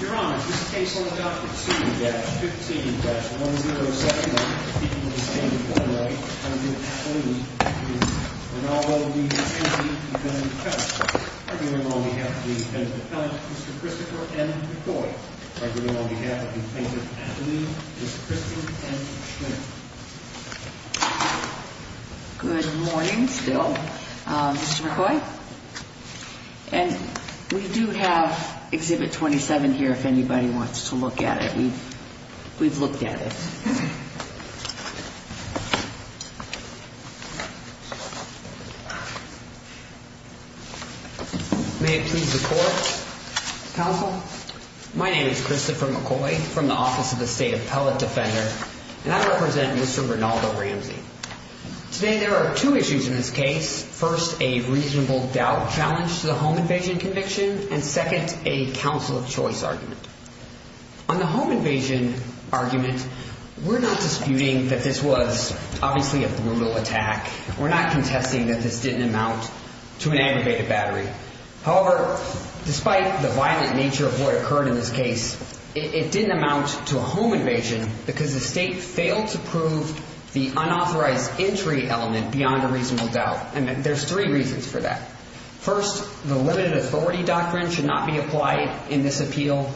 Your Honor, this case will adopt a 2-15-107-1822. And although these cases have been discussed, I bring them on behalf of the defendant appellant, Mr. Christopher M. McCoy. I bring them on behalf of the defendant's attorney, Mr. Christian M. Schrinner. And we do have Exhibit 27 here if anybody wants to look at it. We've looked at it. May it please the Court. Counsel? My name is Christopher McCoy from the Office of the State Appellate Defender, and I represent Mr. Rinaldo Ramsey. Today there are two issues in this case. First, a reasonable doubt challenge to the home invasion conviction, and second, a counsel of choice argument. On the home invasion argument, we're not disputing that this was obviously a brutal attack. We're not contesting that this didn't amount to an aggravated battery. However, despite the violent nature of what occurred in this case, it didn't amount to a home invasion because the State failed to prove the unauthorized entry element beyond a reasonable doubt. And there's three reasons for that. First, the limited authority doctrine should not be applied in this appeal.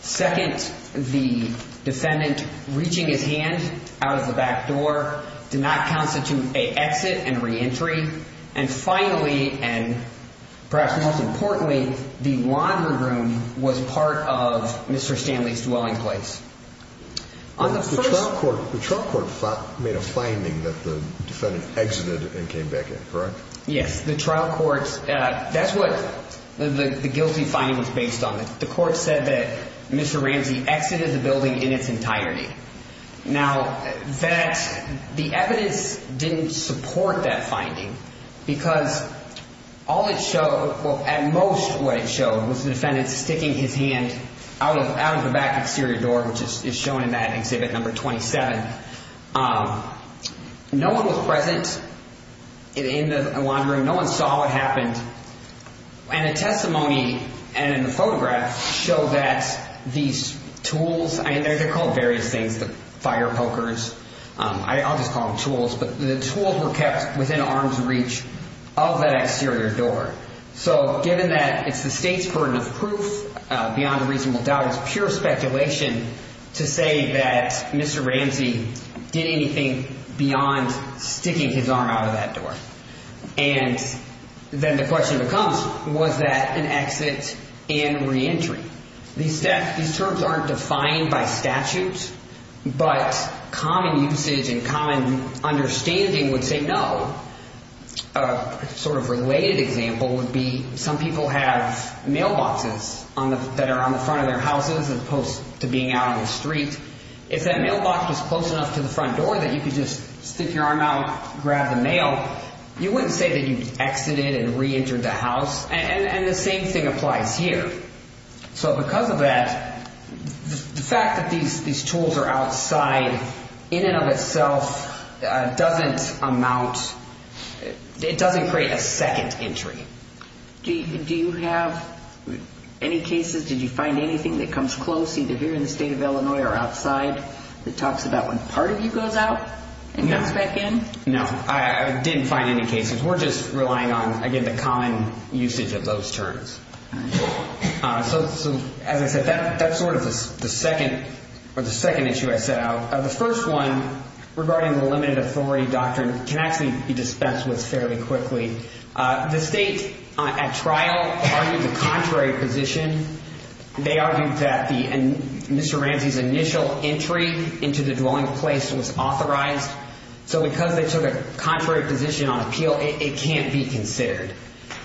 Second, the defendant reaching his hand out of the back door did not constitute an exit and reentry. And finally, and perhaps most importantly, the laundry room was part of Mr. Stanley's dwelling place. The trial court made a finding that the defendant exited and came back in, correct? Yes. The trial court's – that's what the guilty finding was based on. The court said that Mr. Ramsey exited the building in its entirety. Now, that – the evidence didn't support that finding because all it showed – well, at most what it showed was the defendant sticking his hand out of the back exterior door, which is shown in that exhibit number 27. No one was present in the laundry room. No one saw what happened. And a testimony and a photograph show that these tools – I mean, they're called various things, the fire pokers. I'll just call them tools, but the tools were kept within arm's reach of that exterior door. So given that it's the State's burden of proof beyond a reasonable doubt, it's pure speculation to say that Mr. Ramsey did anything beyond sticking his arm out of that door. And then the question becomes, was that an exit and reentry? These terms aren't defined by statute, but common usage and common understanding would say no. A sort of related example would be some people have mailboxes that are on the front of their houses as opposed to being out on the street. If that mailbox was close enough to the front door that you could just stick your arm out, grab the mail, you wouldn't say that you exited and reentered the house. And the same thing applies here. So because of that, the fact that these tools are outside in and of itself doesn't amount – it doesn't create a second entry. Do you have any cases – did you find anything that comes close either here in the State of Illinois or outside that talks about when part of you goes out and comes back in? No, I didn't find any cases. We're just relying on, again, the common usage of those terms. So as I said, that's sort of the second issue I set out. The first one regarding the limited authority doctrine can actually be dispensed with fairly quickly. The state at trial argued the contrary position. They argued that Mr. Ramsey's initial entry into the dwelling place was authorized. So because they took a contrary position on appeal, it can't be considered.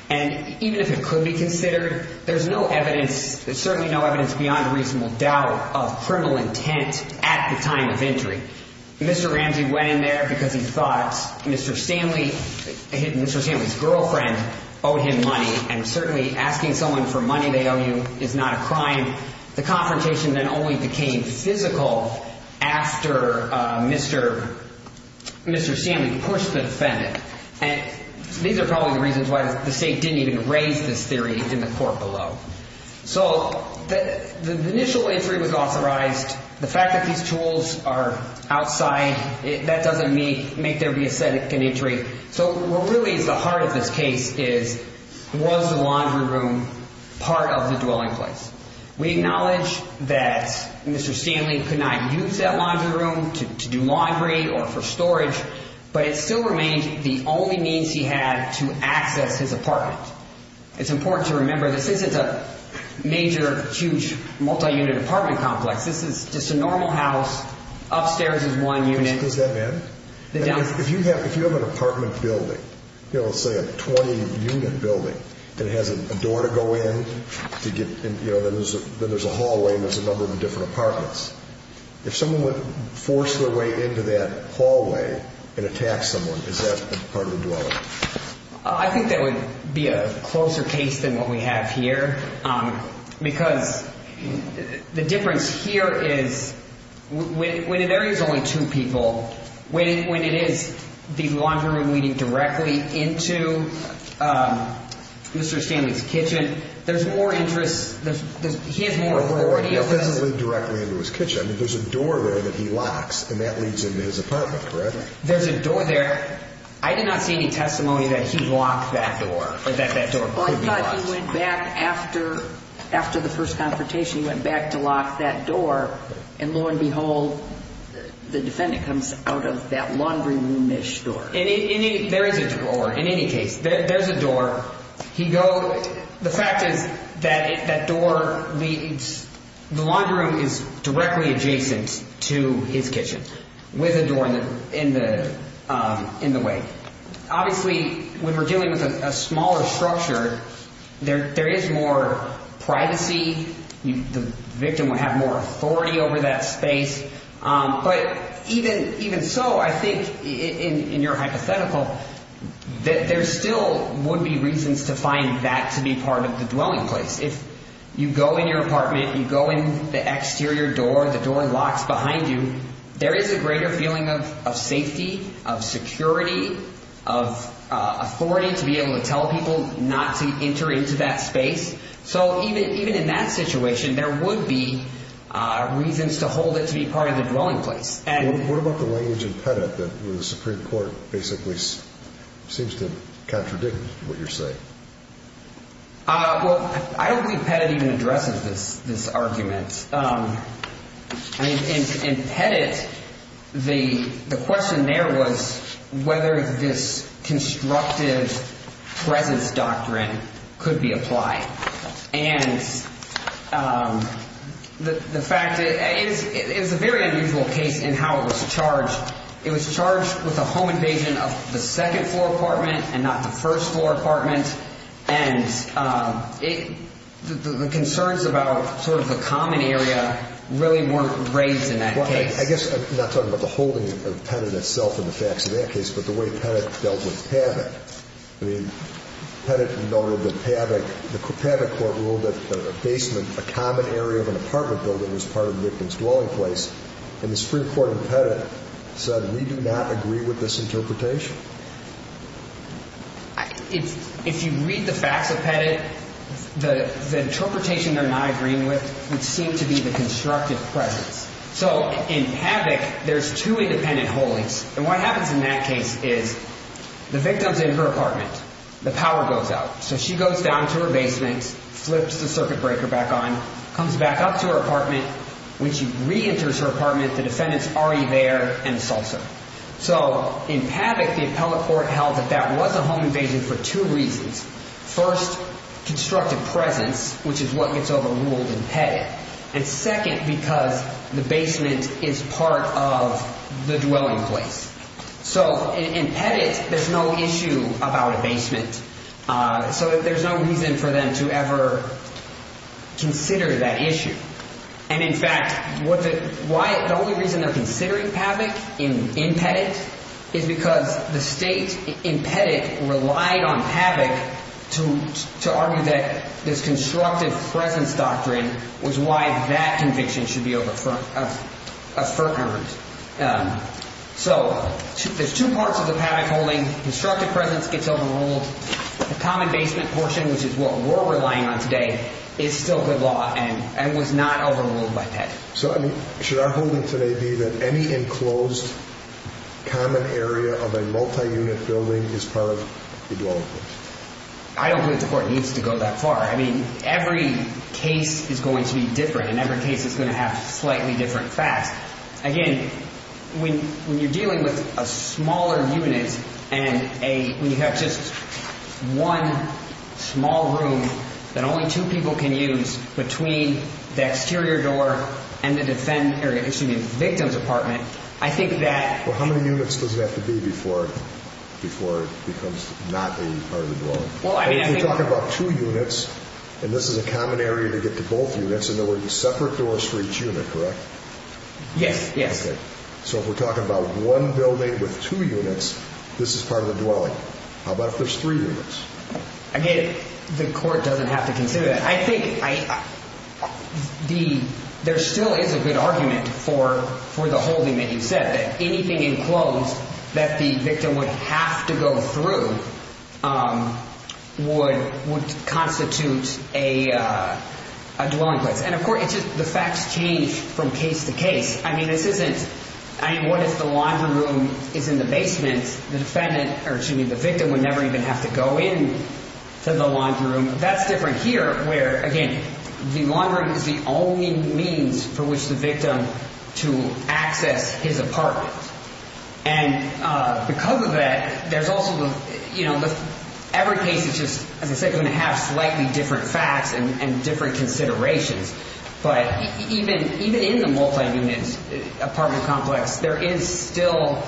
And even if it could be considered, there's no evidence – there's certainly no evidence beyond reasonable doubt of criminal intent at the time of entry. Mr. Ramsey went in there because he thought Mr. Stanley – Mr. Stanley's girlfriend owed him money, and certainly asking someone for money they owe you is not a crime. The confrontation then only became physical after Mr. Stanley pushed the defendant. And these are probably the reasons why the state didn't even raise this theory in the court below. So the initial entry was authorized. The fact that these tools are outside, that doesn't make there be a second entry. So what really is the heart of this case is was the laundry room part of the dwelling place? We acknowledge that Mr. Stanley could not use that laundry room to do laundry or for storage, but it still remained the only means he had to access his apartment. It's important to remember this isn't a major, huge, multi-unit apartment complex. This is just a normal house. Upstairs is one unit. Does that matter? If you have an apartment building, let's say a 20-unit building that has a door to go in, then there's a hallway and there's a number of different apartments. If someone would force their way into that hallway and attack someone, is that part of the dwelling? I think that would be a closer case than what we have here because the difference here is when there is only two people, when it is the laundry room leading directly into Mr. Stanley's kitchen, there's more interest. He has more authority over this. It doesn't lead directly into his kitchen. There's a door there that he locks, and that leads into his apartment, correct? There's a door there. I did not see any testimony that he locked that door or that that door could be locked. Well, I thought he went back after the first confrontation, he went back to lock that door, and lo and behold, the defendant comes out of that laundry room-ish door. There is a door in any case. There's a door. The fact is that the laundry room is directly adjacent to his kitchen with a door in the way. Obviously, when we're dealing with a smaller structure, there is more privacy. The victim would have more authority over that space. But even so, I think in your hypothetical, there still would be reasons to find that to be part of the dwelling place. If you go in your apartment, you go in the exterior door, the door locks behind you, there is a greater feeling of safety, of security, of authority to be able to tell people not to enter into that space. So even in that situation, there would be reasons to hold it to be part of the dwelling place. What about the language in Pettit that the Supreme Court basically seems to contradict what you're saying? Well, I don't think Pettit even addresses this argument. In Pettit, the question there was whether this constructive presence doctrine could be applied. And the fact is it's a very unusual case in how it was charged. It was charged with a home invasion of the second-floor apartment and not the first-floor apartment. And the concerns about sort of the common area really weren't raised in that case. Well, I guess I'm not talking about the holding of Pettit itself and the facts of that case, but the way Pettit dealt with Pavick. I mean, Pettit noted that Pavick, the Pavick court ruled that a basement, a common area of an apartment building was part of the victim's dwelling place. And the Supreme Court in Pettit said, we do not agree with this interpretation. If you read the facts of Pettit, the interpretation they're not agreeing with would seem to be the constructive presence. So in Pavick, there's two independent holdings. And what happens in that case is the victim's in her apartment. The power goes out. So she goes down to her basement, flips the circuit breaker back on, comes back up to her apartment. When she reenters her apartment, the defendant's already there and assaults her. So in Pavick, the appellate court held that that was a home invasion for two reasons. First, constructive presence, which is what gets overruled in Pettit. And second, because the basement is part of the dwelling place. So in Pettit, there's no issue about a basement. So there's no reason for them to ever consider that issue. And in fact, the only reason they're considering Pavick in Pettit is because the state in Pettit relied on Pavick to argue that this constructive presence doctrine was why that conviction should be affirmed. So there's two parts of the Pavick holding. Constructive presence gets overruled. The common basement portion, which is what we're relying on today, is still good law and was not overruled by Pettit. So should our holding today be that any enclosed common area of a multi-unit building is part of the dwelling place? I don't believe the court needs to go that far. I mean, every case is going to be different, and every case is going to have slightly different facts. Again, when you're dealing with a smaller unit and when you have just one small room that only two people can use between the exterior door and the victim's apartment, I think that— Well, how many units does it have to be before it becomes not a part of the dwelling? Well, I mean, I think— Yes, yes. So if we're talking about one building with two units, this is part of the dwelling. How about if there's three units? Again, the court doesn't have to consider that. I think there still is a good argument for the holding that you said, that anything enclosed that the victim would have to go through would constitute a dwelling place. And of course, it's just the facts change from case to case. I mean, this isn't—I mean, what if the laundry room is in the basement? The defendant—or excuse me, the victim would never even have to go into the laundry room. That's different here where, again, the laundry room is the only means for which the victim to access his apartment. And because of that, there's also the—you know, every case is just, as I said, going to have slightly different facts and different considerations. But even in the multi-unit apartment complex, there is still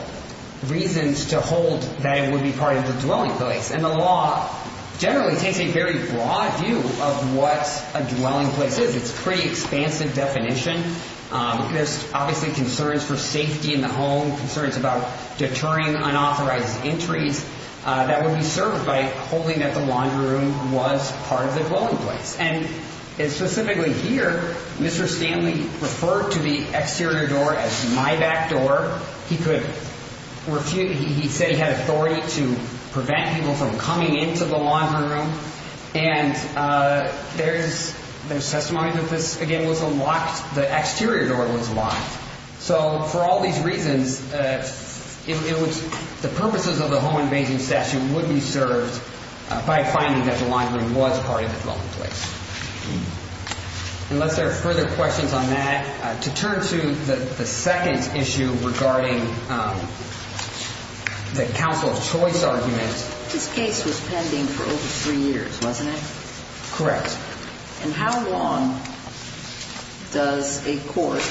reasons to hold that it would be part of the dwelling place. And the law generally takes a very broad view of what a dwelling place is. It's a pretty expansive definition. There's obviously concerns for safety in the home, concerns about deterring unauthorized entries that would be served by holding that the laundry room was part of the dwelling place. And specifically here, Mr. Stanley referred to the exterior door as my back door. He could—he said he had authority to prevent people from coming into the laundry room. And there's testimony that this, again, was a locked—the exterior door was locked. So for all these reasons, it was—the purposes of the home invasion statute would be served by finding that the laundry room was part of the dwelling place. Unless there are further questions on that, to turn to the second issue regarding the counsel of choice argument. This case was pending for over three years, wasn't it? Correct. And how long does a court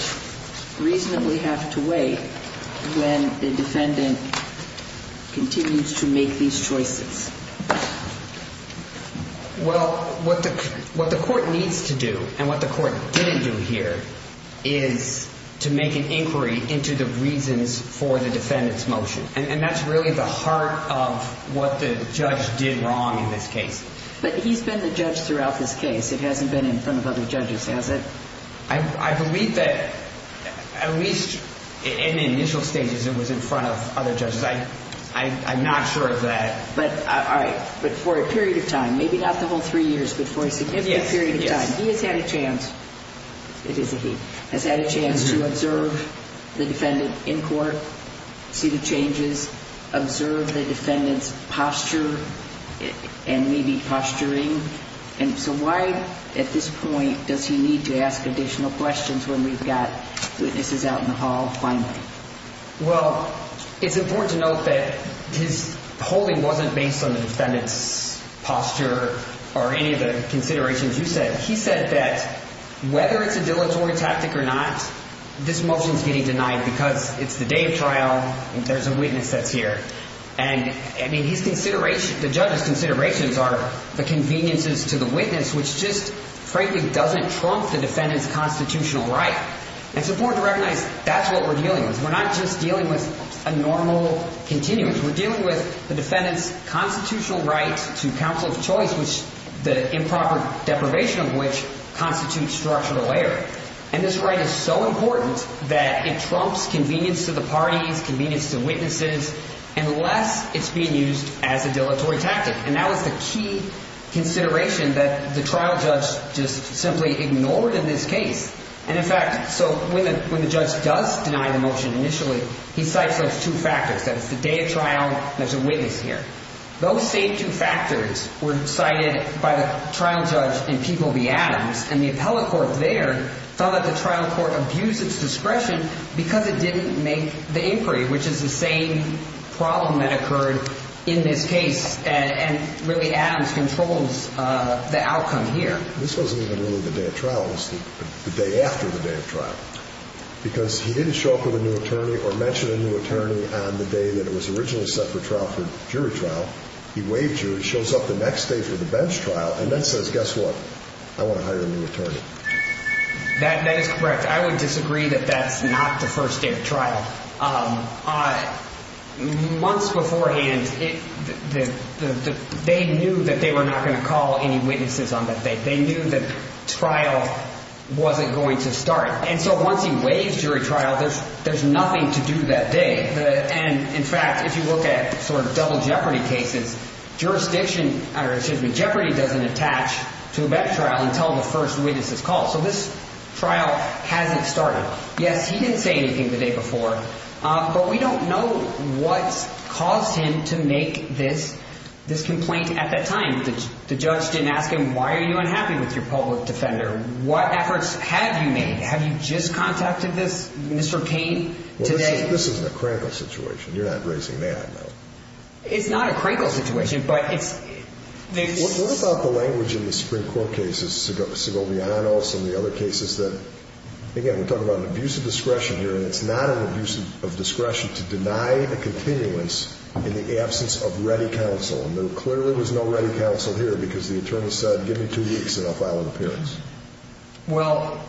reasonably have to wait when the defendant continues to make these choices? Well, what the court needs to do and what the court didn't do here is to make an inquiry into the reasons for the defendant's motion. And that's really the heart of what the judge did wrong in this case. But he's been the judge throughout this case. It hasn't been in front of other judges, has it? I believe that at least in the initial stages, it was in front of other judges. I'm not sure that— All right. But for a period of time, maybe not the whole three years, but for a significant period of time, he has had a chance—it is a he— has had a chance to observe the defendant in court, see the changes, observe the defendant's posture and maybe posturing. And so why at this point does he need to ask additional questions when we've got witnesses out in the hall finally? Well, it's important to note that his holding wasn't based on the defendant's posture or any of the considerations you said. He said that whether it's a dilatory tactic or not, this motion is getting denied because it's the day of trial and there's a witness that's here. And, I mean, his consideration—the judge's considerations are the conveniences to the witness, which just frankly doesn't trump the defendant's constitutional right. And it's important to recognize that's what we're dealing with. We're not just dealing with a normal continuance. We're dealing with the defendant's constitutional right to counsel of choice, which—the improper deprivation of which constitutes structural error. And this right is so important that it trumps convenience to the parties, convenience to witnesses, unless it's being used as a dilatory tactic. And that was the key consideration that the trial judge just simply ignored in this case. And, in fact, so when the judge does deny the motion initially, he cites those two factors, that it's the day of trial and there's a witness here. Those same two factors were cited by the trial judge in Peeble v. Adams, and the appellate court there felt that the trial court abused its discretion because it didn't make the inquiry, which is the same problem that occurred in this case, and really Adams controls the outcome here. And this wasn't even really the day of trial. It was the day after the day of trial because he didn't show up with a new attorney or mention a new attorney on the day that it was originally set for trial for jury trial. He waived jury, shows up the next day for the bench trial, and then says, guess what? I want to hire a new attorney. That is correct. I would disagree that that's not the first day of trial. Months beforehand, they knew that they were not going to call any witnesses on that day. They knew that trial wasn't going to start. And so once he waived jury trial, there's nothing to do that day. And, in fact, if you look at sort of double jeopardy cases, jurisdiction or jeopardy doesn't attach to a bench trial until the first witness is called. So this trial hasn't started. Yes, he didn't say anything the day before. But we don't know what caused him to make this complaint at that time. The judge didn't ask him, why are you unhappy with your public defender? What efforts have you made? Have you just contacted this, Mr. Cain, today? Well, this isn't a Krankel situation. You're not raising the ad now. It's not a Krankel situation, but it's… What about the language in the Supreme Court cases, Segovia-Hanos and the other cases that, again, we're talking about an abuse of discretion here. And it's not an abuse of discretion to deny a continuance in the absence of ready counsel. And there clearly was no ready counsel here because the attorney said, give me two weeks and I'll file an appearance. Well,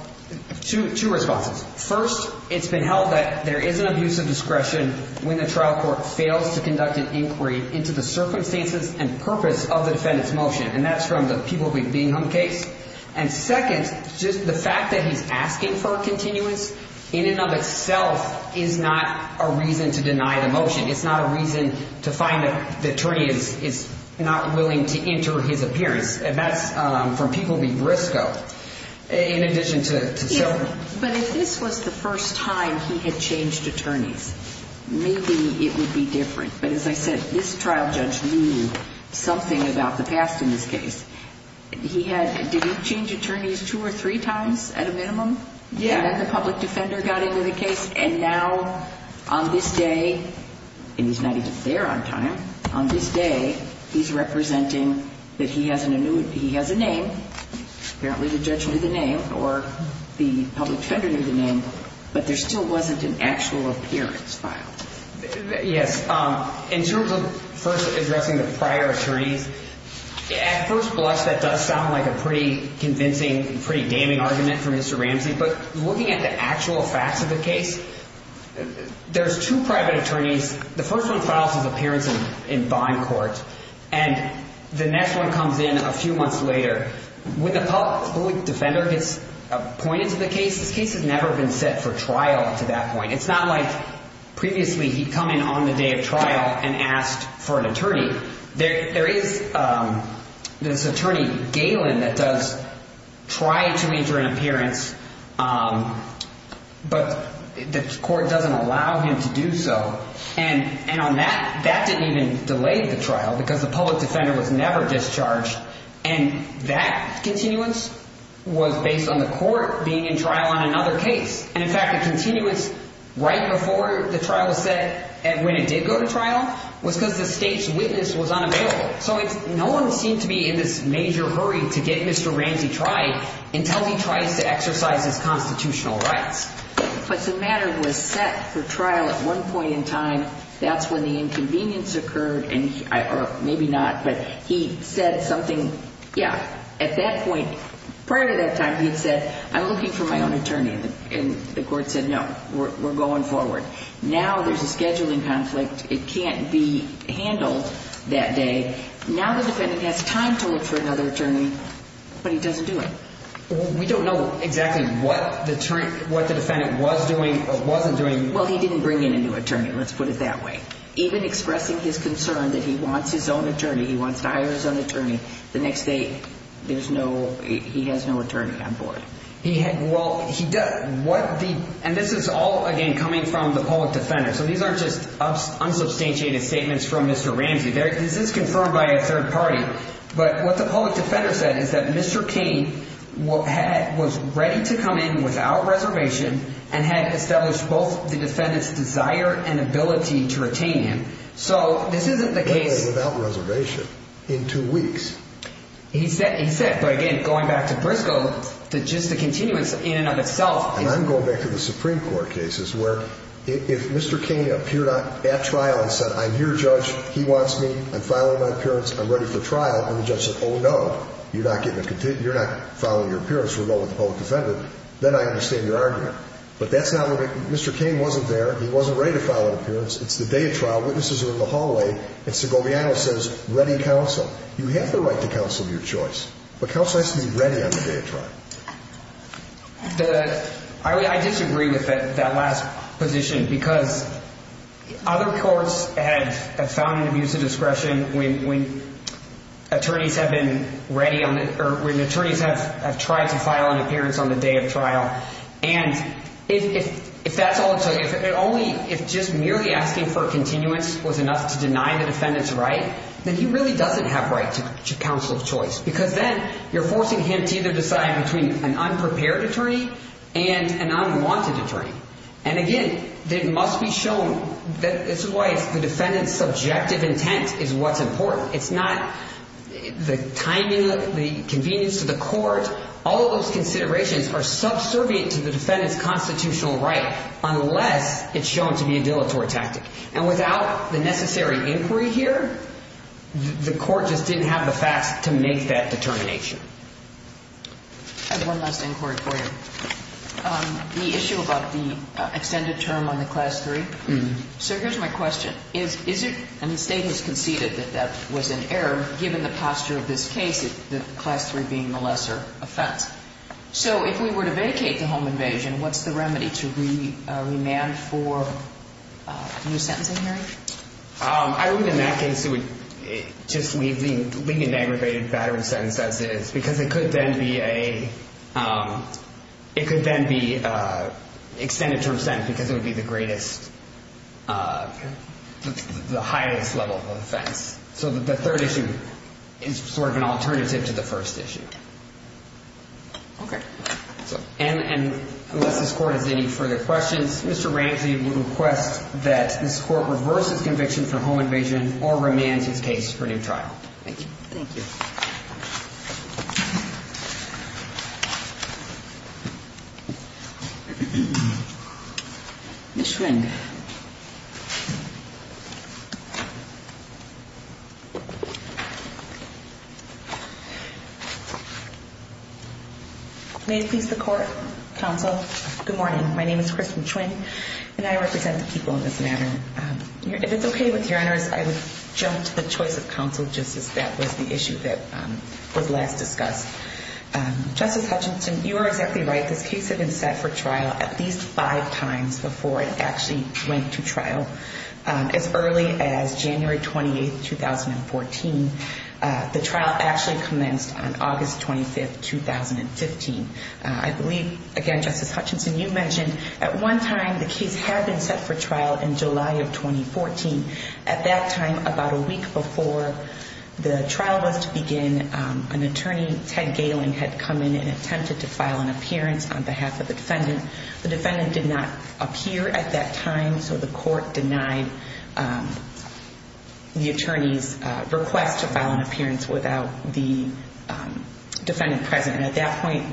two responses. First, it's been held that there is an abuse of discretion when the trial court fails to conduct an inquiry into the circumstances and purpose of the defendant's motion. And that's from the people being on the case. And second, just the fact that he's asking for a continuance in and of itself is not a reason to deny the motion. It's not a reason to find that the attorney is not willing to enter his appearance. And that's from people being brisco in addition to… But if this was the first time he had changed attorneys, maybe it would be different. But as I said, this trial judge knew something about the past in this case. He had – did he change attorneys two or three times at a minimum? Yeah. And then the public defender got into the case. And now on this day – and he's not even there on time – on this day, he's representing that he has a name. Apparently the judge knew the name or the public defender knew the name, but there still wasn't an actual appearance filed. Yes. In terms of first addressing the prior attorneys, at first blush, that does sound like a pretty convincing, pretty damning argument from Mr. Ramsey. But looking at the actual facts of the case, there's two private attorneys. The first one files his appearance in bond court. And the next one comes in a few months later. When the public defender gets appointed to the case, this case has never been set for trial up to that point. It's not like previously he'd come in on the day of trial and asked for an attorney. There is this attorney, Galen, that does try to enter an appearance, but the court doesn't allow him to do so. And on that, that didn't even delay the trial because the public defender was never discharged. And that continuance was based on the court being in trial on another case. And, in fact, the continuance right before the trial was set and when it did go to trial was because the state's witness was unavailable. So no one seemed to be in this major hurry to get Mr. Ramsey tried until he tries to exercise his constitutional rights. But the matter was set for trial at one point in time. That's when the inconvenience occurred, or maybe not. But he said something, yeah, at that point, prior to that time, he'd said, I'm looking for my own attorney. And the court said, no, we're going forward. Now there's a scheduling conflict. It can't be handled that day. Now the defendant has time to look for another attorney, but he doesn't do it. We don't know exactly what the attorney, what the defendant was doing or wasn't doing. Well, he didn't bring in a new attorney. Let's put it that way. Even expressing his concern that he wants his own attorney, he wants to hire his own attorney. The next day, there's no, he has no attorney on board. He had, well, he does. And this is all, again, coming from the public defender. So these aren't just unsubstantiated statements from Mr. Ramsey. This is confirmed by a third party. But what the public defender said is that Mr. Cain was ready to come in without reservation and had established both the defendant's desire and ability to retain him. So this isn't the case. What do you mean without reservation? In two weeks. He said, but again, going back to Briscoe, just the continuance in and of itself. And I'm going back to the Supreme Court cases where if Mr. Cain appeared at trial and said, I'm your judge. He wants me. I'm filing my appearance. I'm ready for trial. And the judge said, oh, no, you're not following your appearance. We'll go with the public defendant. Then I understand your argument. But that's not what, Mr. Cain wasn't there. He wasn't ready to file an appearance. It's the day of trial. Witnesses are in the hallway. And Segoviano says, ready counsel. You have the right to counsel of your choice. But counsel has to be ready on the day of trial. I disagree with that last position. Because other courts have found an abuse of discretion when attorneys have tried to file an appearance on the day of trial. And if that's all it took, if just merely asking for continuance was enough to deny the defendant's right, then he really doesn't have right to counsel of choice. Because then you're forcing him to either decide between an unprepared attorney and an unwanted attorney. And, again, it must be shown that this is why the defendant's subjective intent is what's important. It's not the timing, the convenience to the court. All of those considerations are subservient to the defendant's constitutional right unless it's shown to be a dilatory tactic. And without the necessary inquiry here, the court just didn't have the facts to make that determination. I have one last inquiry for you. The issue about the extended term on the Class III. So here's my question. Is it ñ and the State has conceded that that was an error, given the posture of this case, the Class III being the lesser offense. So if we were to vacate the home invasion, what's the remedy to remand for a new sentencing hearing? I would, in that case, just leave the aggravated battery sentence as is because it could then be a ñ it could then be an extended term sentence because it would be the greatest, the highest level of offense. So the third issue is sort of an alternative to the first issue. Okay. And unless this Court has any further questions, Mr. Ramsey would request that this Court reverse his conviction for home invasion or remand his case for new trial. Thank you. Ms. Schwinn. May it please the Court, Counsel, good morning. My name is Kristen Schwinn, and I represent the people in this matter. If it's okay with your honors, I would jump to the choice of counsel just as that was the issue that was last discussed. Justice Hutchinson, you are exactly right. This case had been set for trial at least five times before it actually went to trial. As early as January 28, 2014, the trial actually commenced on August 25, 2015. I believe, again, Justice Hutchinson, you mentioned at one time the case had been set for trial in July of 2014. At that time, about a week before the trial was to begin, an attorney, Ted Galen, had come in and attempted to file an appearance on behalf of the defendant. The defendant did not appear at that time, so the Court denied the attorney's request to file an appearance without the defendant present. At that point,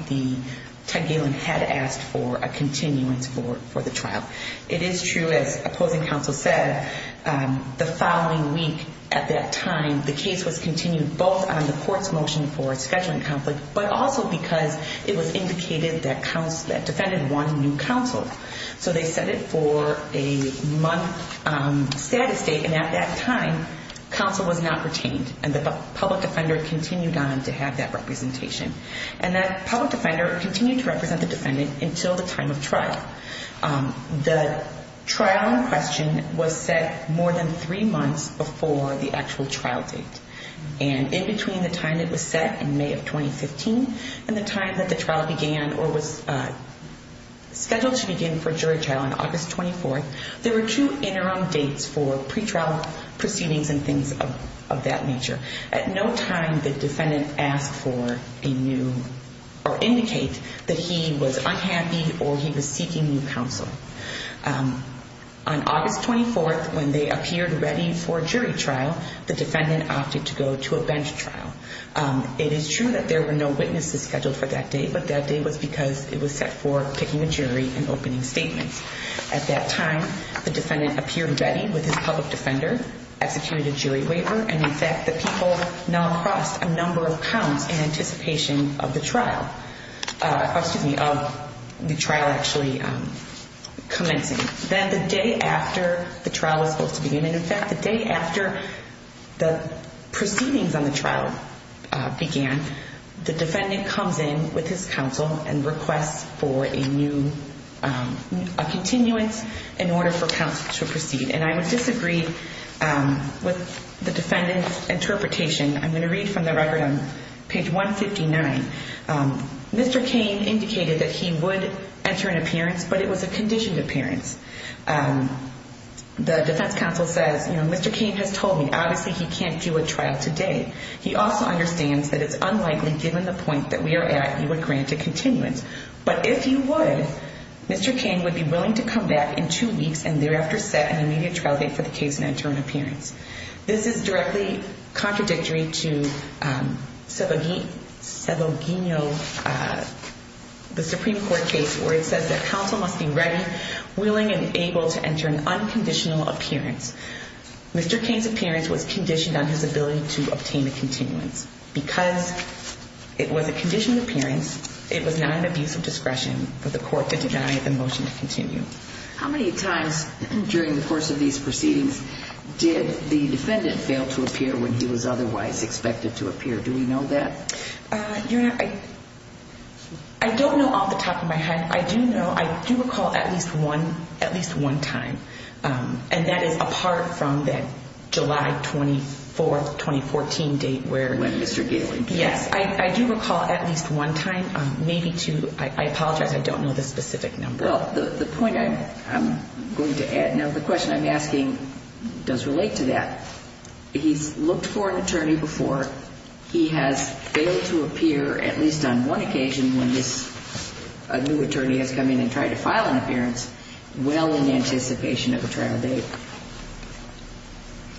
Ted Galen had asked for a continuance for the trial. It is true, as opposing counsel said, the following week at that time, the case was continued both on the Court's motion for a scheduling conflict, but also because it was indicated that defendant wanted new counsel. So they set it for a month status date, and at that time, counsel was not retained, and the public defender continued on to have that representation. And that public defender continued to represent the defendant until the time of trial. The trial in question was set more than three months before the actual trial date. And in between the time it was set, in May of 2015, and the time that the trial began or was scheduled to begin for jury trial on August 24, there were two interim dates for pretrial proceedings and things of that nature. At no time did defendant ask for a new or indicate that he was unhappy or he was seeking new counsel. On August 24, when they appeared ready for jury trial, the defendant opted to go to a bench trial. It is true that there were no witnesses scheduled for that day, but that day was because it was set for picking a jury and opening statements. At that time, the defendant appeared ready with his public defender, executed a jury waiver, and, in fact, the people now crossed a number of counts in anticipation of the trial actually commencing. Then the day after the trial was supposed to begin, and, in fact, the day after the proceedings on the trial began, the defendant comes in with his counsel and requests for a new continuance in order for counsel to proceed. And I would disagree with the defendant's interpretation. I'm going to read from the record on page 159. Mr. Cain indicated that he would enter an appearance, but it was a conditioned appearance. The defense counsel says, you know, Mr. Cain has told me, obviously, he can't do a trial today. He also understands that it's unlikely, given the point that we are at, he would grant a continuance. But if he would, Mr. Cain would be willing to come back in two weeks and thereafter set an immediate trial date for the case and enter an appearance. This is directly contradictory to Savoglino, the Supreme Court case, where it says that counsel must be ready, willing, and able to enter an unconditional appearance. Mr. Cain's appearance was conditioned on his ability to obtain a continuance. Because it was a conditioned appearance, it was not an abuse of discretion for the court to deny the motion to continue. How many times during the course of these proceedings did the defendant fail to appear when he was otherwise expected to appear? Do we know that? Your Honor, I don't know off the top of my head. And I do know, I do recall at least one, at least one time. And that is apart from that July 24th, 2014 date where Mr. Galing came. Yes, I do recall at least one time, maybe two. I apologize, I don't know the specific number. Well, the point I'm going to add, now the question I'm asking does relate to that. He's looked for an attorney before. He has failed to appear at least on one occasion when this new attorney has come in and tried to file an appearance, well in anticipation of a trial date.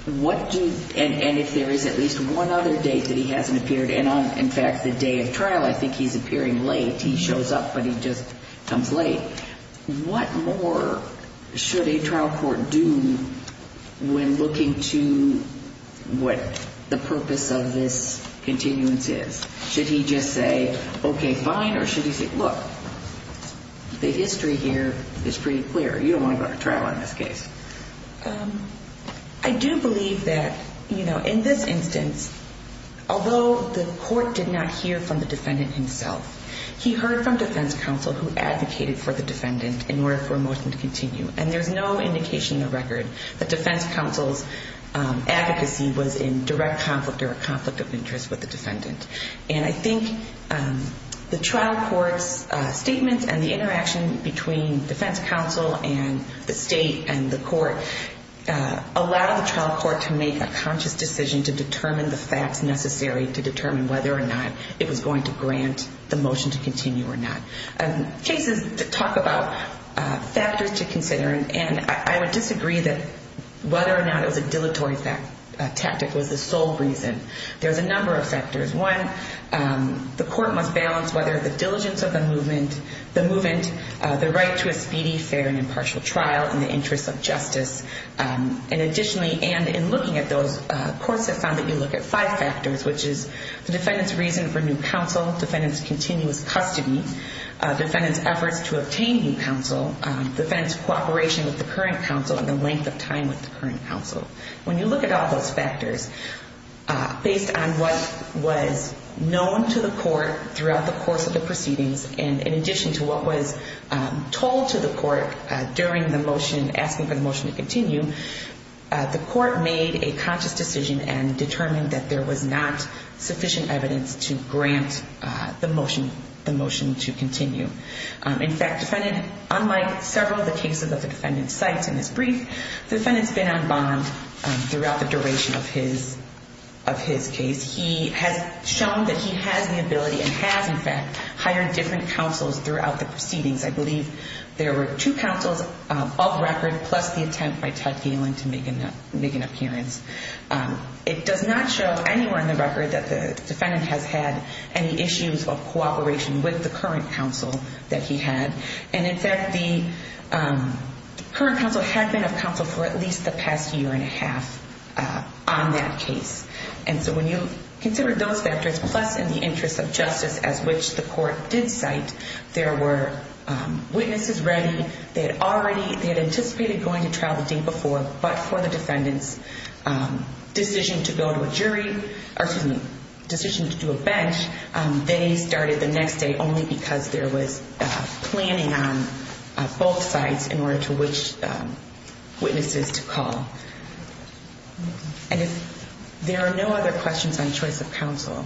And if there is at least one other date that he hasn't appeared, and on, in fact, the day of trial, I think he's appearing late. He shows up, but he just comes late. What more should a trial court do when looking to what the purpose of this continuance is? Should he just say, okay, fine, or should he say, look, the history here is pretty clear. You don't want to go to trial on this case. I do believe that, you know, in this instance, although the court did not hear from the defendant himself, he heard from defense counsel who advocated for the defendant in order for a motion to continue. And there's no indication in the record that defense counsel's advocacy was in direct conflict or a conflict of interest with the defendant. And I think the trial court's statements and the interaction between defense counsel and the state and the court allow the trial court to make a conscious decision to determine the facts necessary to determine whether or not it was going to grant the motion to continue or not. Cases talk about factors to consider, and I would disagree that whether or not it was a dilatory tactic was the sole reason. There's a number of factors. One, the court must balance whether the diligence of the movement, the right to a speedy, fair, and impartial trial in the interest of justice. And additionally, and in looking at those, courts have found that you look at five factors, which is the defendant's reason for new counsel, defendant's continuous custody, defendant's efforts to obtain new counsel, defendant's cooperation with the current counsel, and the length of time with the current counsel. When you look at all those factors, based on what was known to the court throughout the course of the proceedings, and in addition to what was told to the court during the motion, asking for the motion to continue, the court made a conscious decision and determined that there was not sufficient evidence to grant the motion to continue. In fact, the defendant, unlike several of the cases that the defendant cites in this brief, the defendant's been on bond throughout the duration of his case. He has shown that he has the ability and has, in fact, hired different counsels throughout the proceedings. I believe there were two counsels of record, plus the attempt by Ted Galen to make an appearance. It does not show anywhere in the record that the defendant has had any issues of cooperation with the current counsel that he had. And in fact, the current counsel had been of counsel for at least the past year and a half on that case. And so when you consider those factors, plus in the interest of justice, as which the court did cite, there were witnesses ready. They had anticipated going to trial the day before, but for the defendant's decision to go to a jury, or excuse me, decision to do a bench, they started the next day only because there was planning on both sides in order to which witnesses to call. And there are no other questions on choice of counsel.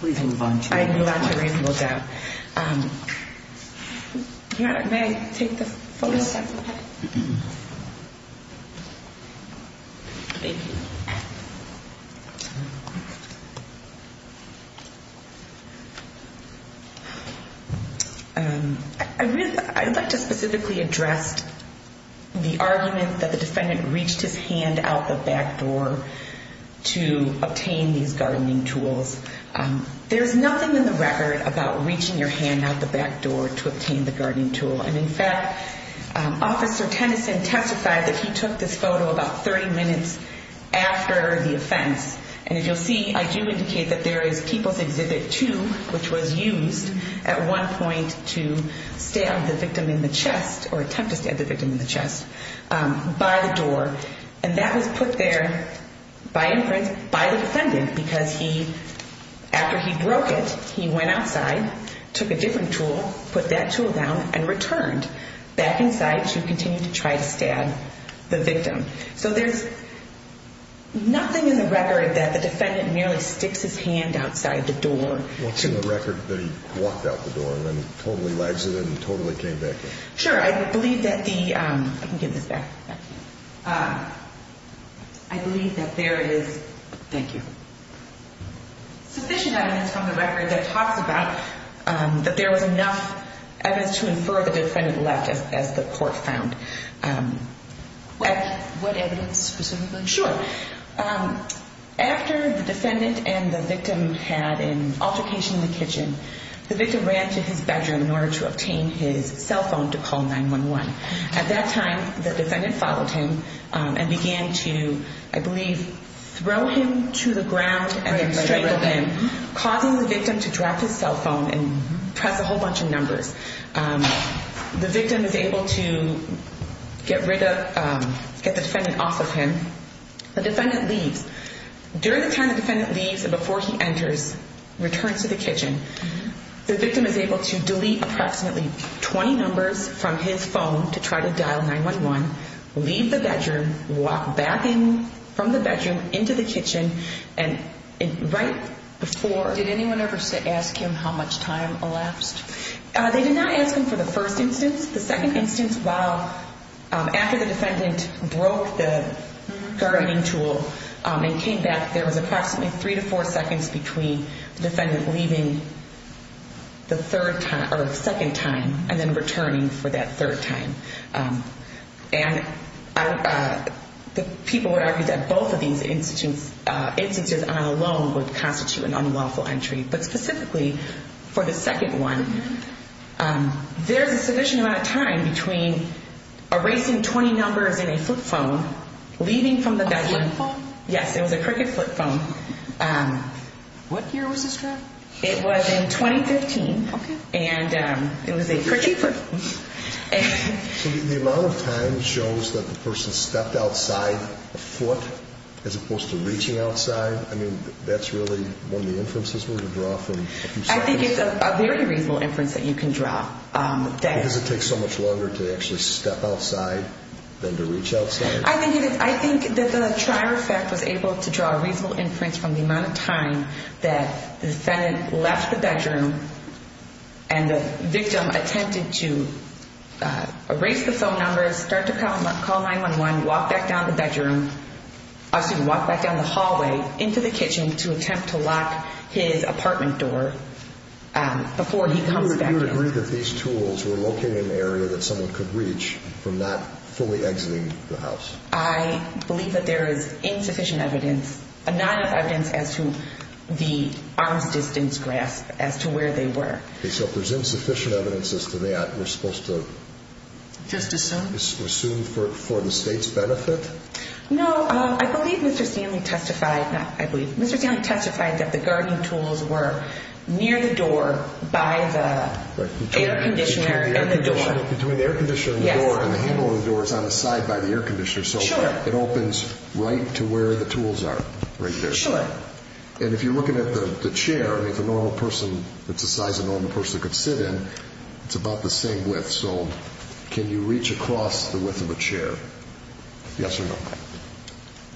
Please move on. I move on to reasonable doubt. May I take the phone? Yes. Okay. Thank you. I'd like to specifically address the argument that the defendant reached his hand out the back door to obtain these gardening tools. There is nothing in the record about reaching your hand out the back door to obtain the gardening tool. And in fact, Officer Tennyson testified that he took this photo about 30 minutes after the offense. And as you'll see, I do indicate that there is People's Exhibit 2, which was used at one point to stab the victim in the chest, or attempt to stab the victim in the chest, by the door. And that was put there by imprint by the defendant because he, after he broke it, he went outside, took a different tool, put that tool down, and returned back inside to continue to try to stab the victim. So there's nothing in the record that the defendant merely sticks his hand outside the door. What's in the record that he walked out the door and then totally legs it and totally came back in? Sure. I believe that the – I can get this back. I believe that there is – thank you. Sufficient evidence from the record that talks about that there was enough evidence to infer the defendant left, as the court found. What evidence, specifically? Sure. After the defendant and the victim had an altercation in the kitchen, the victim ran to his bedroom in order to obtain his cell phone to call 911. At that time, the defendant followed him and began to, I believe, throw him to the ground and then strangle him, causing the victim to drop his cell phone and press a whole bunch of numbers. The victim is able to get rid of – get the defendant off of him. The defendant leaves. During the time the defendant leaves and before he enters, returns to the kitchen, the victim is able to delete approximately 20 numbers from his phone to try to dial 911, leave the bedroom, walk back in from the bedroom into the kitchen, and right before – Did anyone ever ask him how much time elapsed? They did not ask him for the first instance. The second instance, while – after the defendant broke the targeting tool and came back, there was approximately three to four seconds between the defendant leaving the third time – or second time and then returning for that third time. And the people would argue that both of these instances alone would constitute an unlawful entry. But specifically, for the second one, there's a sufficient amount of time between erasing 20 numbers in a flip phone, leaving from the bedroom – A flip phone? Yes, it was a crooked flip phone. What year was this drawn? It was in 2015. Okay. And it was a crooked flip phone. So the amount of time shows that the person stepped outside a foot as opposed to reaching outside? I mean, that's really one of the inferences we're going to draw from a few seconds? I think it's a very reasonable inference that you can draw. Does it take so much longer to actually step outside than to reach outside? I think that the trier effect was able to draw a reasonable inference from the amount of time that the defendant left the bedroom and the victim attempted to erase the phone numbers, start to call 911, walk back down the bedroom – I'm sorry, walk back down the hallway into the kitchen to attempt to lock his apartment door before he comes back in. Do you agree that these tools were located in an area that someone could reach from not fully exiting the house? I believe that there is insufficient evidence – not enough evidence as to the arm's distance grasp as to where they were. Okay. So if there's insufficient evidence as to that, we're supposed to – Just assume? Assume for the state's benefit? No, I believe Mr. Stanley testified – Between the air conditioner and the door, and the handle of the door is on the side by the air conditioner, so it opens right to where the tools are, right there. Sure. And if you're looking at the chair, I mean, it's a normal person – it's the size a normal person could sit in. It's about the same width, so can you reach across the width of a chair? Yes or no?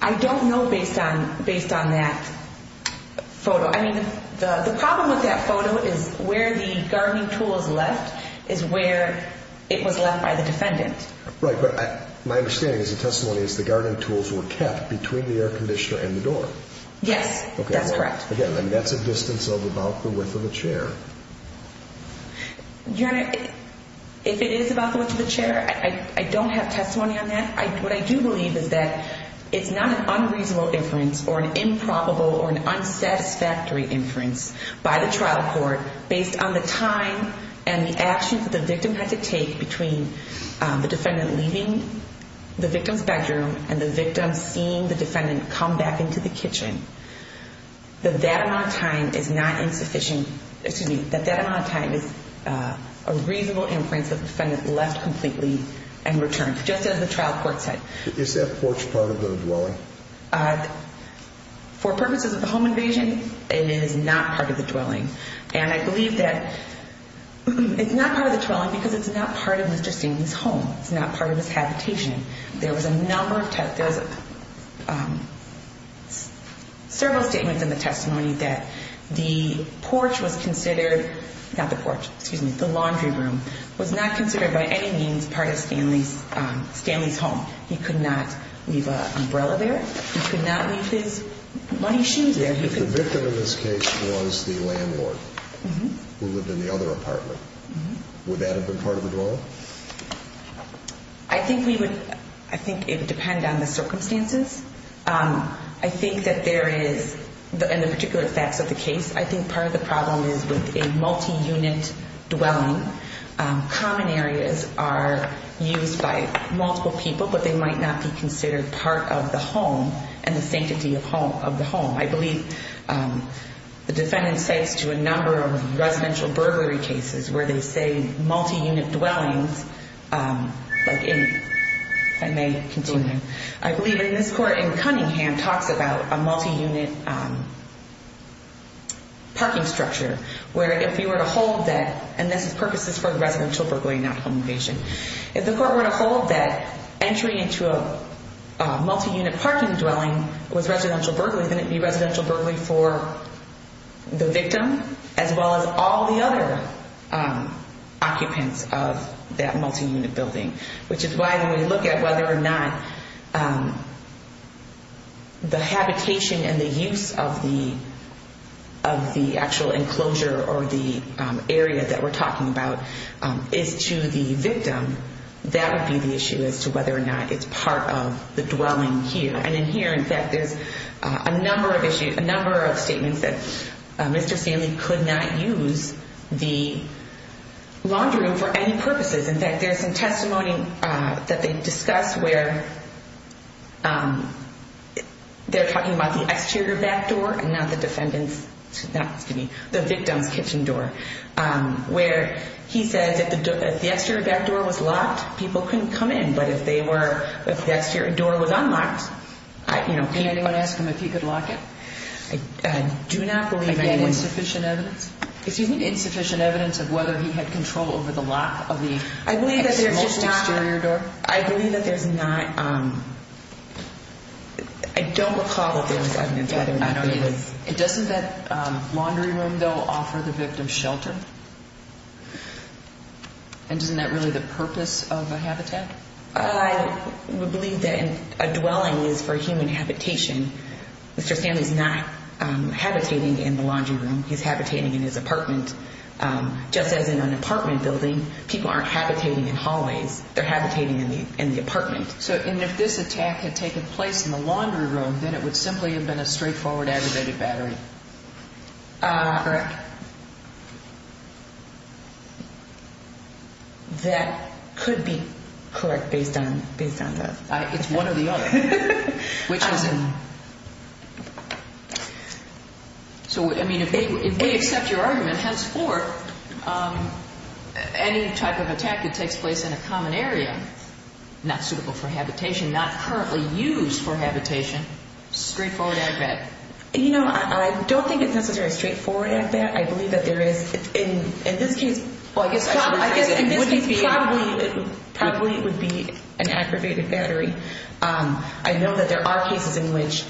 I don't know based on that photo. No, I mean, the problem with that photo is where the gardening tools left is where it was left by the defendant. Right, but my understanding as a testimony is the gardening tools were kept between the air conditioner and the door. Yes, that's correct. Again, that's a distance of about the width of a chair. Your Honor, if it is about the width of a chair, I don't have testimony on that. What I do believe is that it's not an unreasonable inference or an improbable or an unsatisfactory inference by the trial court based on the time and the actions that the victim had to take between the defendant leaving the victim's bedroom and the victim seeing the defendant come back into the kitchen, that that amount of time is not insufficient – excuse me, that that amount of time is a reasonable inference that the defendant left completely and returned just as the trial court said. Is that porch part of the dwelling? For purposes of the home invasion, it is not part of the dwelling. And I believe that it's not part of the dwelling because it's not part of Mr. Stanley's home. It's not part of his habitation. There was a number of – there was several statements in the testimony that the porch was considered – not the porch, excuse me, the laundry room was not considered by any means part of Stanley's home. He could not leave an umbrella there. He could not leave his muddy shoes there. If the victim in this case was the landlord who lived in the other apartment, would that have been part of the dwelling? I think we would – I think it would depend on the circumstances. I think that there is – in the particular facts of the case, I think part of the problem is with a multi-unit dwelling. Common areas are used by multiple people, but they might not be considered part of the home and the sanctity of the home. I believe the defendant cites to a number of residential burglary cases where they say multi-unit dwellings. I may continue. I believe in this court in Cunningham talks about a multi-unit parking structure where if you were to hold that – and this is purposes for the residential burglary, not home invasion. If the court were to hold that entry into a multi-unit parking dwelling was residential burglary, wouldn't it be residential burglary for the victim as well as all the other occupants of that multi-unit building? Which is why when we look at whether or not the habitation and the use of the actual enclosure or the area that we're talking about is to the victim, that would be the issue as to whether or not it's part of the dwelling here. And in here, in fact, there's a number of statements that Mr. Stanley could not use the laundry room for any purposes. In fact, there's some testimony that they discuss where they're talking about the exterior back door and not the defendant's – excuse me, the victim's kitchen door where he says if the exterior back door was locked, people couldn't come in. But if they were – if the exterior door was unlocked, you know, people – Can anyone ask him if he could lock it? I do not believe anyone – Again, insufficient evidence? If you need insufficient evidence of whether he had control over the lock of the – I believe that there's just not – Exterior door? I believe that there's not – I don't recall if there was evidence whether or not it was – I would believe that a dwelling is for human habitation. Mr. Stanley's not habitating in the laundry room. He's habitating in his apartment. Just as in an apartment building, people aren't habitating in hallways. They're habitating in the apartment. So – and if this attack had taken place in the laundry room, then it would simply have been a straightforward aggravated battery. Correct. That – that could be correct based on – based on that. It's one or the other, which is – So, I mean, if we accept your argument, henceforth, any type of attack that takes place in a common area, not suitable for habitation, not currently used for habitation, straightforward agbat. You know, I don't think it's necessarily straightforward agbat. I believe that there is – in this case – Well, I guess – I guess in this case probably it would be an aggravated battery. I know that there are cases in which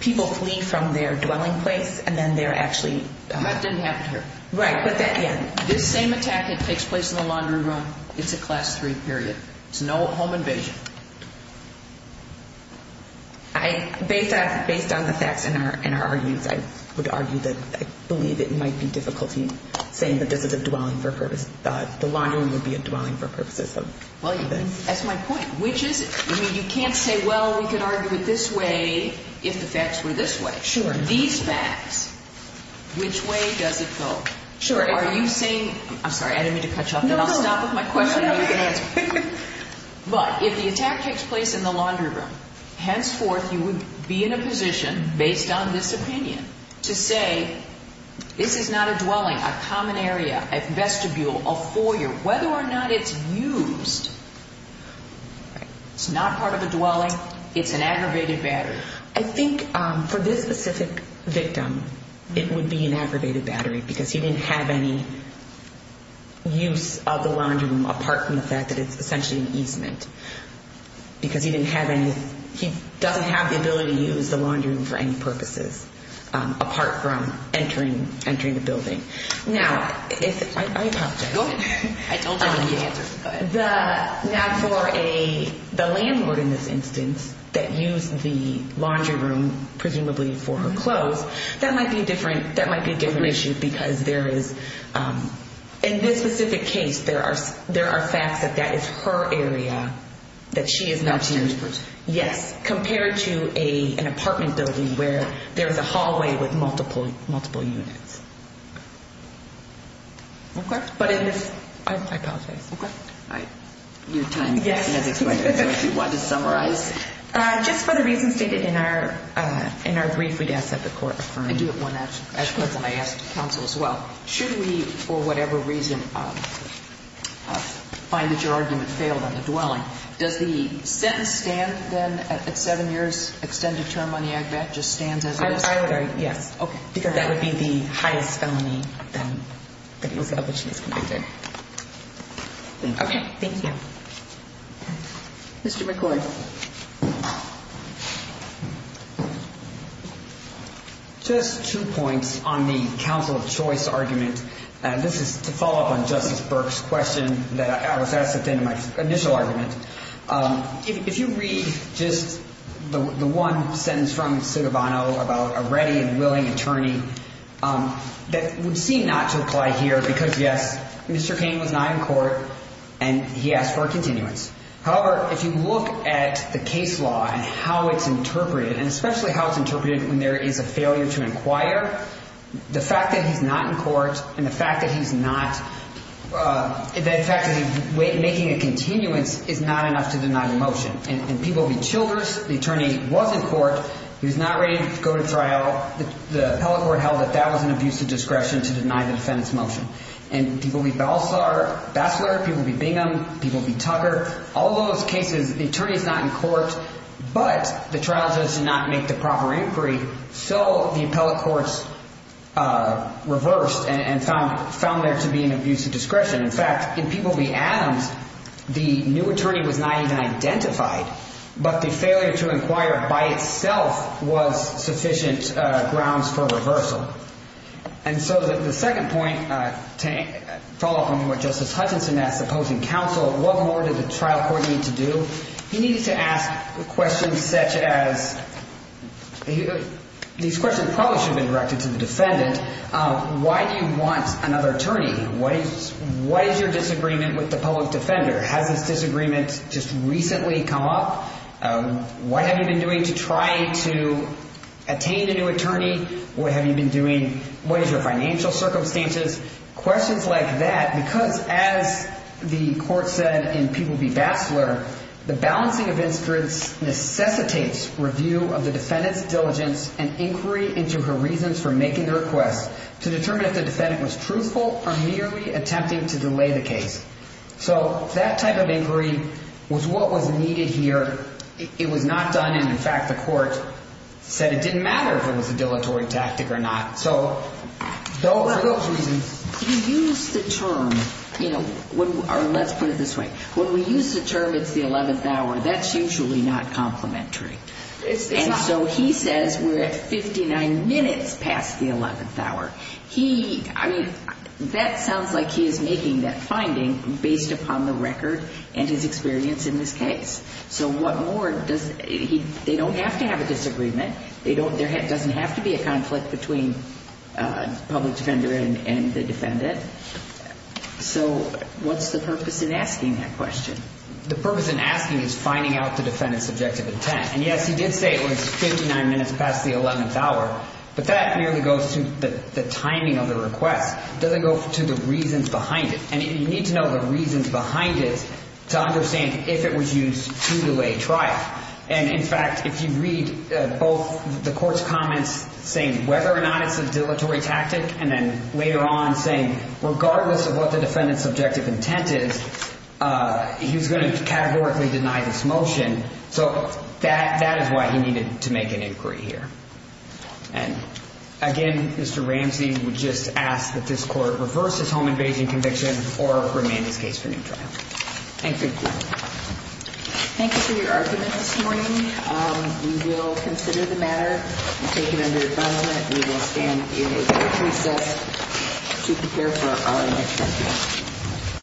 people flee from their dwelling place and then they're actually – That didn't happen here. Right, but that – yeah. This same attack that takes place in the laundry room, it's a Class III period. It's no home invasion. I – based on – based on the facts in our – in our arguments, I would argue that I believe it might be difficulty saying that this is a dwelling for purpose. The laundry room would be a dwelling for purposes of this. Well, that's my point. Which is – I mean, you can't say, well, we could argue it this way if the facts were this way. Sure. These facts, which way does it go? Sure. Are you saying – I'm sorry. I didn't mean to cut you off. No, no. Then I'll stop with my question and you can answer. But if the attack takes place in the laundry room, henceforth you would be in a position, based on this opinion, to say this is not a dwelling, a common area, a vestibule, a foyer. Whether or not it's used, it's not part of a dwelling. It's an aggravated battery. I think for this specific victim, it would be an aggravated battery because he didn't have any use of the laundry room, apart from the fact that it's essentially an easement. Because he didn't have any – he doesn't have the ability to use the laundry room for any purposes, apart from entering the building. Now, if – I apologize. Go ahead. I don't have any answers. Go ahead. Now, for the landlord in this instance that used the laundry room, presumably for her clothes, that might be a different issue because there is – in this specific case, there are facts that that is her area that she is not using. Upstairs. Yes. Compared to an apartment building where there is a hallway with multiple units. Okay. But in this – I apologize. Okay. Your time has expired. Yes. Do you want to summarize? Yes. Just for the reasons stated in our brief, we'd ask that the Court affirm. I do have one question. Sure. I asked counsel as well. Should we, for whatever reason, find that your argument failed on the dwelling, does the sentence stand then at seven years, extended term on the agbat, just stands as it is? I would argue yes. Okay. Because that would be the highest felony then that he was publicly convicted. Thank you. Okay. Thank you. Mr. McCord. Just two points on the counsel of choice argument. This is to follow up on Justice Burke's question that I was asked at the end of my initial argument. If you read just the one sentence from Citavano about a ready and willing attorney, that would seem not to apply here because, yes, Mr. Cain was not in court and he asked for a continuance. However, if you look at the case law and how it's interpreted, and especially how it's interpreted when there is a failure to inquire, the fact that he's not in court and the fact that he's not – the fact that he's making a continuance is not enough to deny the motion. In People v. Childress, the attorney was in court. He was not ready to go to trial. The appellate court held that that was an abuse of discretion to deny the defendant's motion. In People v. Balsar, Bassler, People v. Bingham, People v. Tucker, all those cases, the attorney is not in court, but the trial judge did not make the proper inquiry, so the appellate courts reversed and found there to be an abuse of discretion. In fact, in People v. Adams, the new attorney was not even identified, but the failure to inquire by itself was sufficient grounds for reversal. And so the second point, to follow up on what Justice Hutchinson asked the opposing counsel, what more did the trial court need to do? He needed to ask questions such as – these questions probably should have been directed to the defendant. Why do you want another attorney? What is your disagreement with the public defender? Has this disagreement just recently come up? What have you been doing to try to attain a new attorney? What have you been doing? What is your financial circumstances? Questions like that because, as the court said in People v. Bassler, the balancing of instruments necessitates review of the defendant's diligence and inquiry into her reasons for making the request to determine if the defendant was truthful or merely attempting to delay the case. So that type of inquiry was what was needed here. It was not done and, in fact, the court said it didn't matter if it was a dilatory tactic or not. So for those reasons – You use the term – or let's put it this way. When we use the term it's the 11th hour, that's usually not complementary. And so he says we're at 59 minutes past the 11th hour. He – I mean, that sounds like he is making that finding based upon the record and his experience in this case. So what more does – they don't have to have a disagreement. There doesn't have to be a conflict between the public defender and the defendant. So what's the purpose in asking that question? The purpose in asking is finding out the defendant's subjective intent. And, yes, he did say it was 59 minutes past the 11th hour, but that merely goes to the timing of the request. It doesn't go to the reasons behind it. And you need to know the reasons behind it to understand if it was used to delay trial. And, in fact, if you read both the court's comments saying whether or not it's a dilatory tactic and then later on saying regardless of what the defendant's subjective intent is, he was going to categorically deny this motion. So that is why he needed to make an inquiry here. And, again, Mr. Ramsey would just ask that this court reverse his home invasion conviction or remand his case for new trial. Thank you. Thank you for your argument this morning. We will consider the matter and take it under adjustment. We will stand in a court recess to prepare for our next hearing.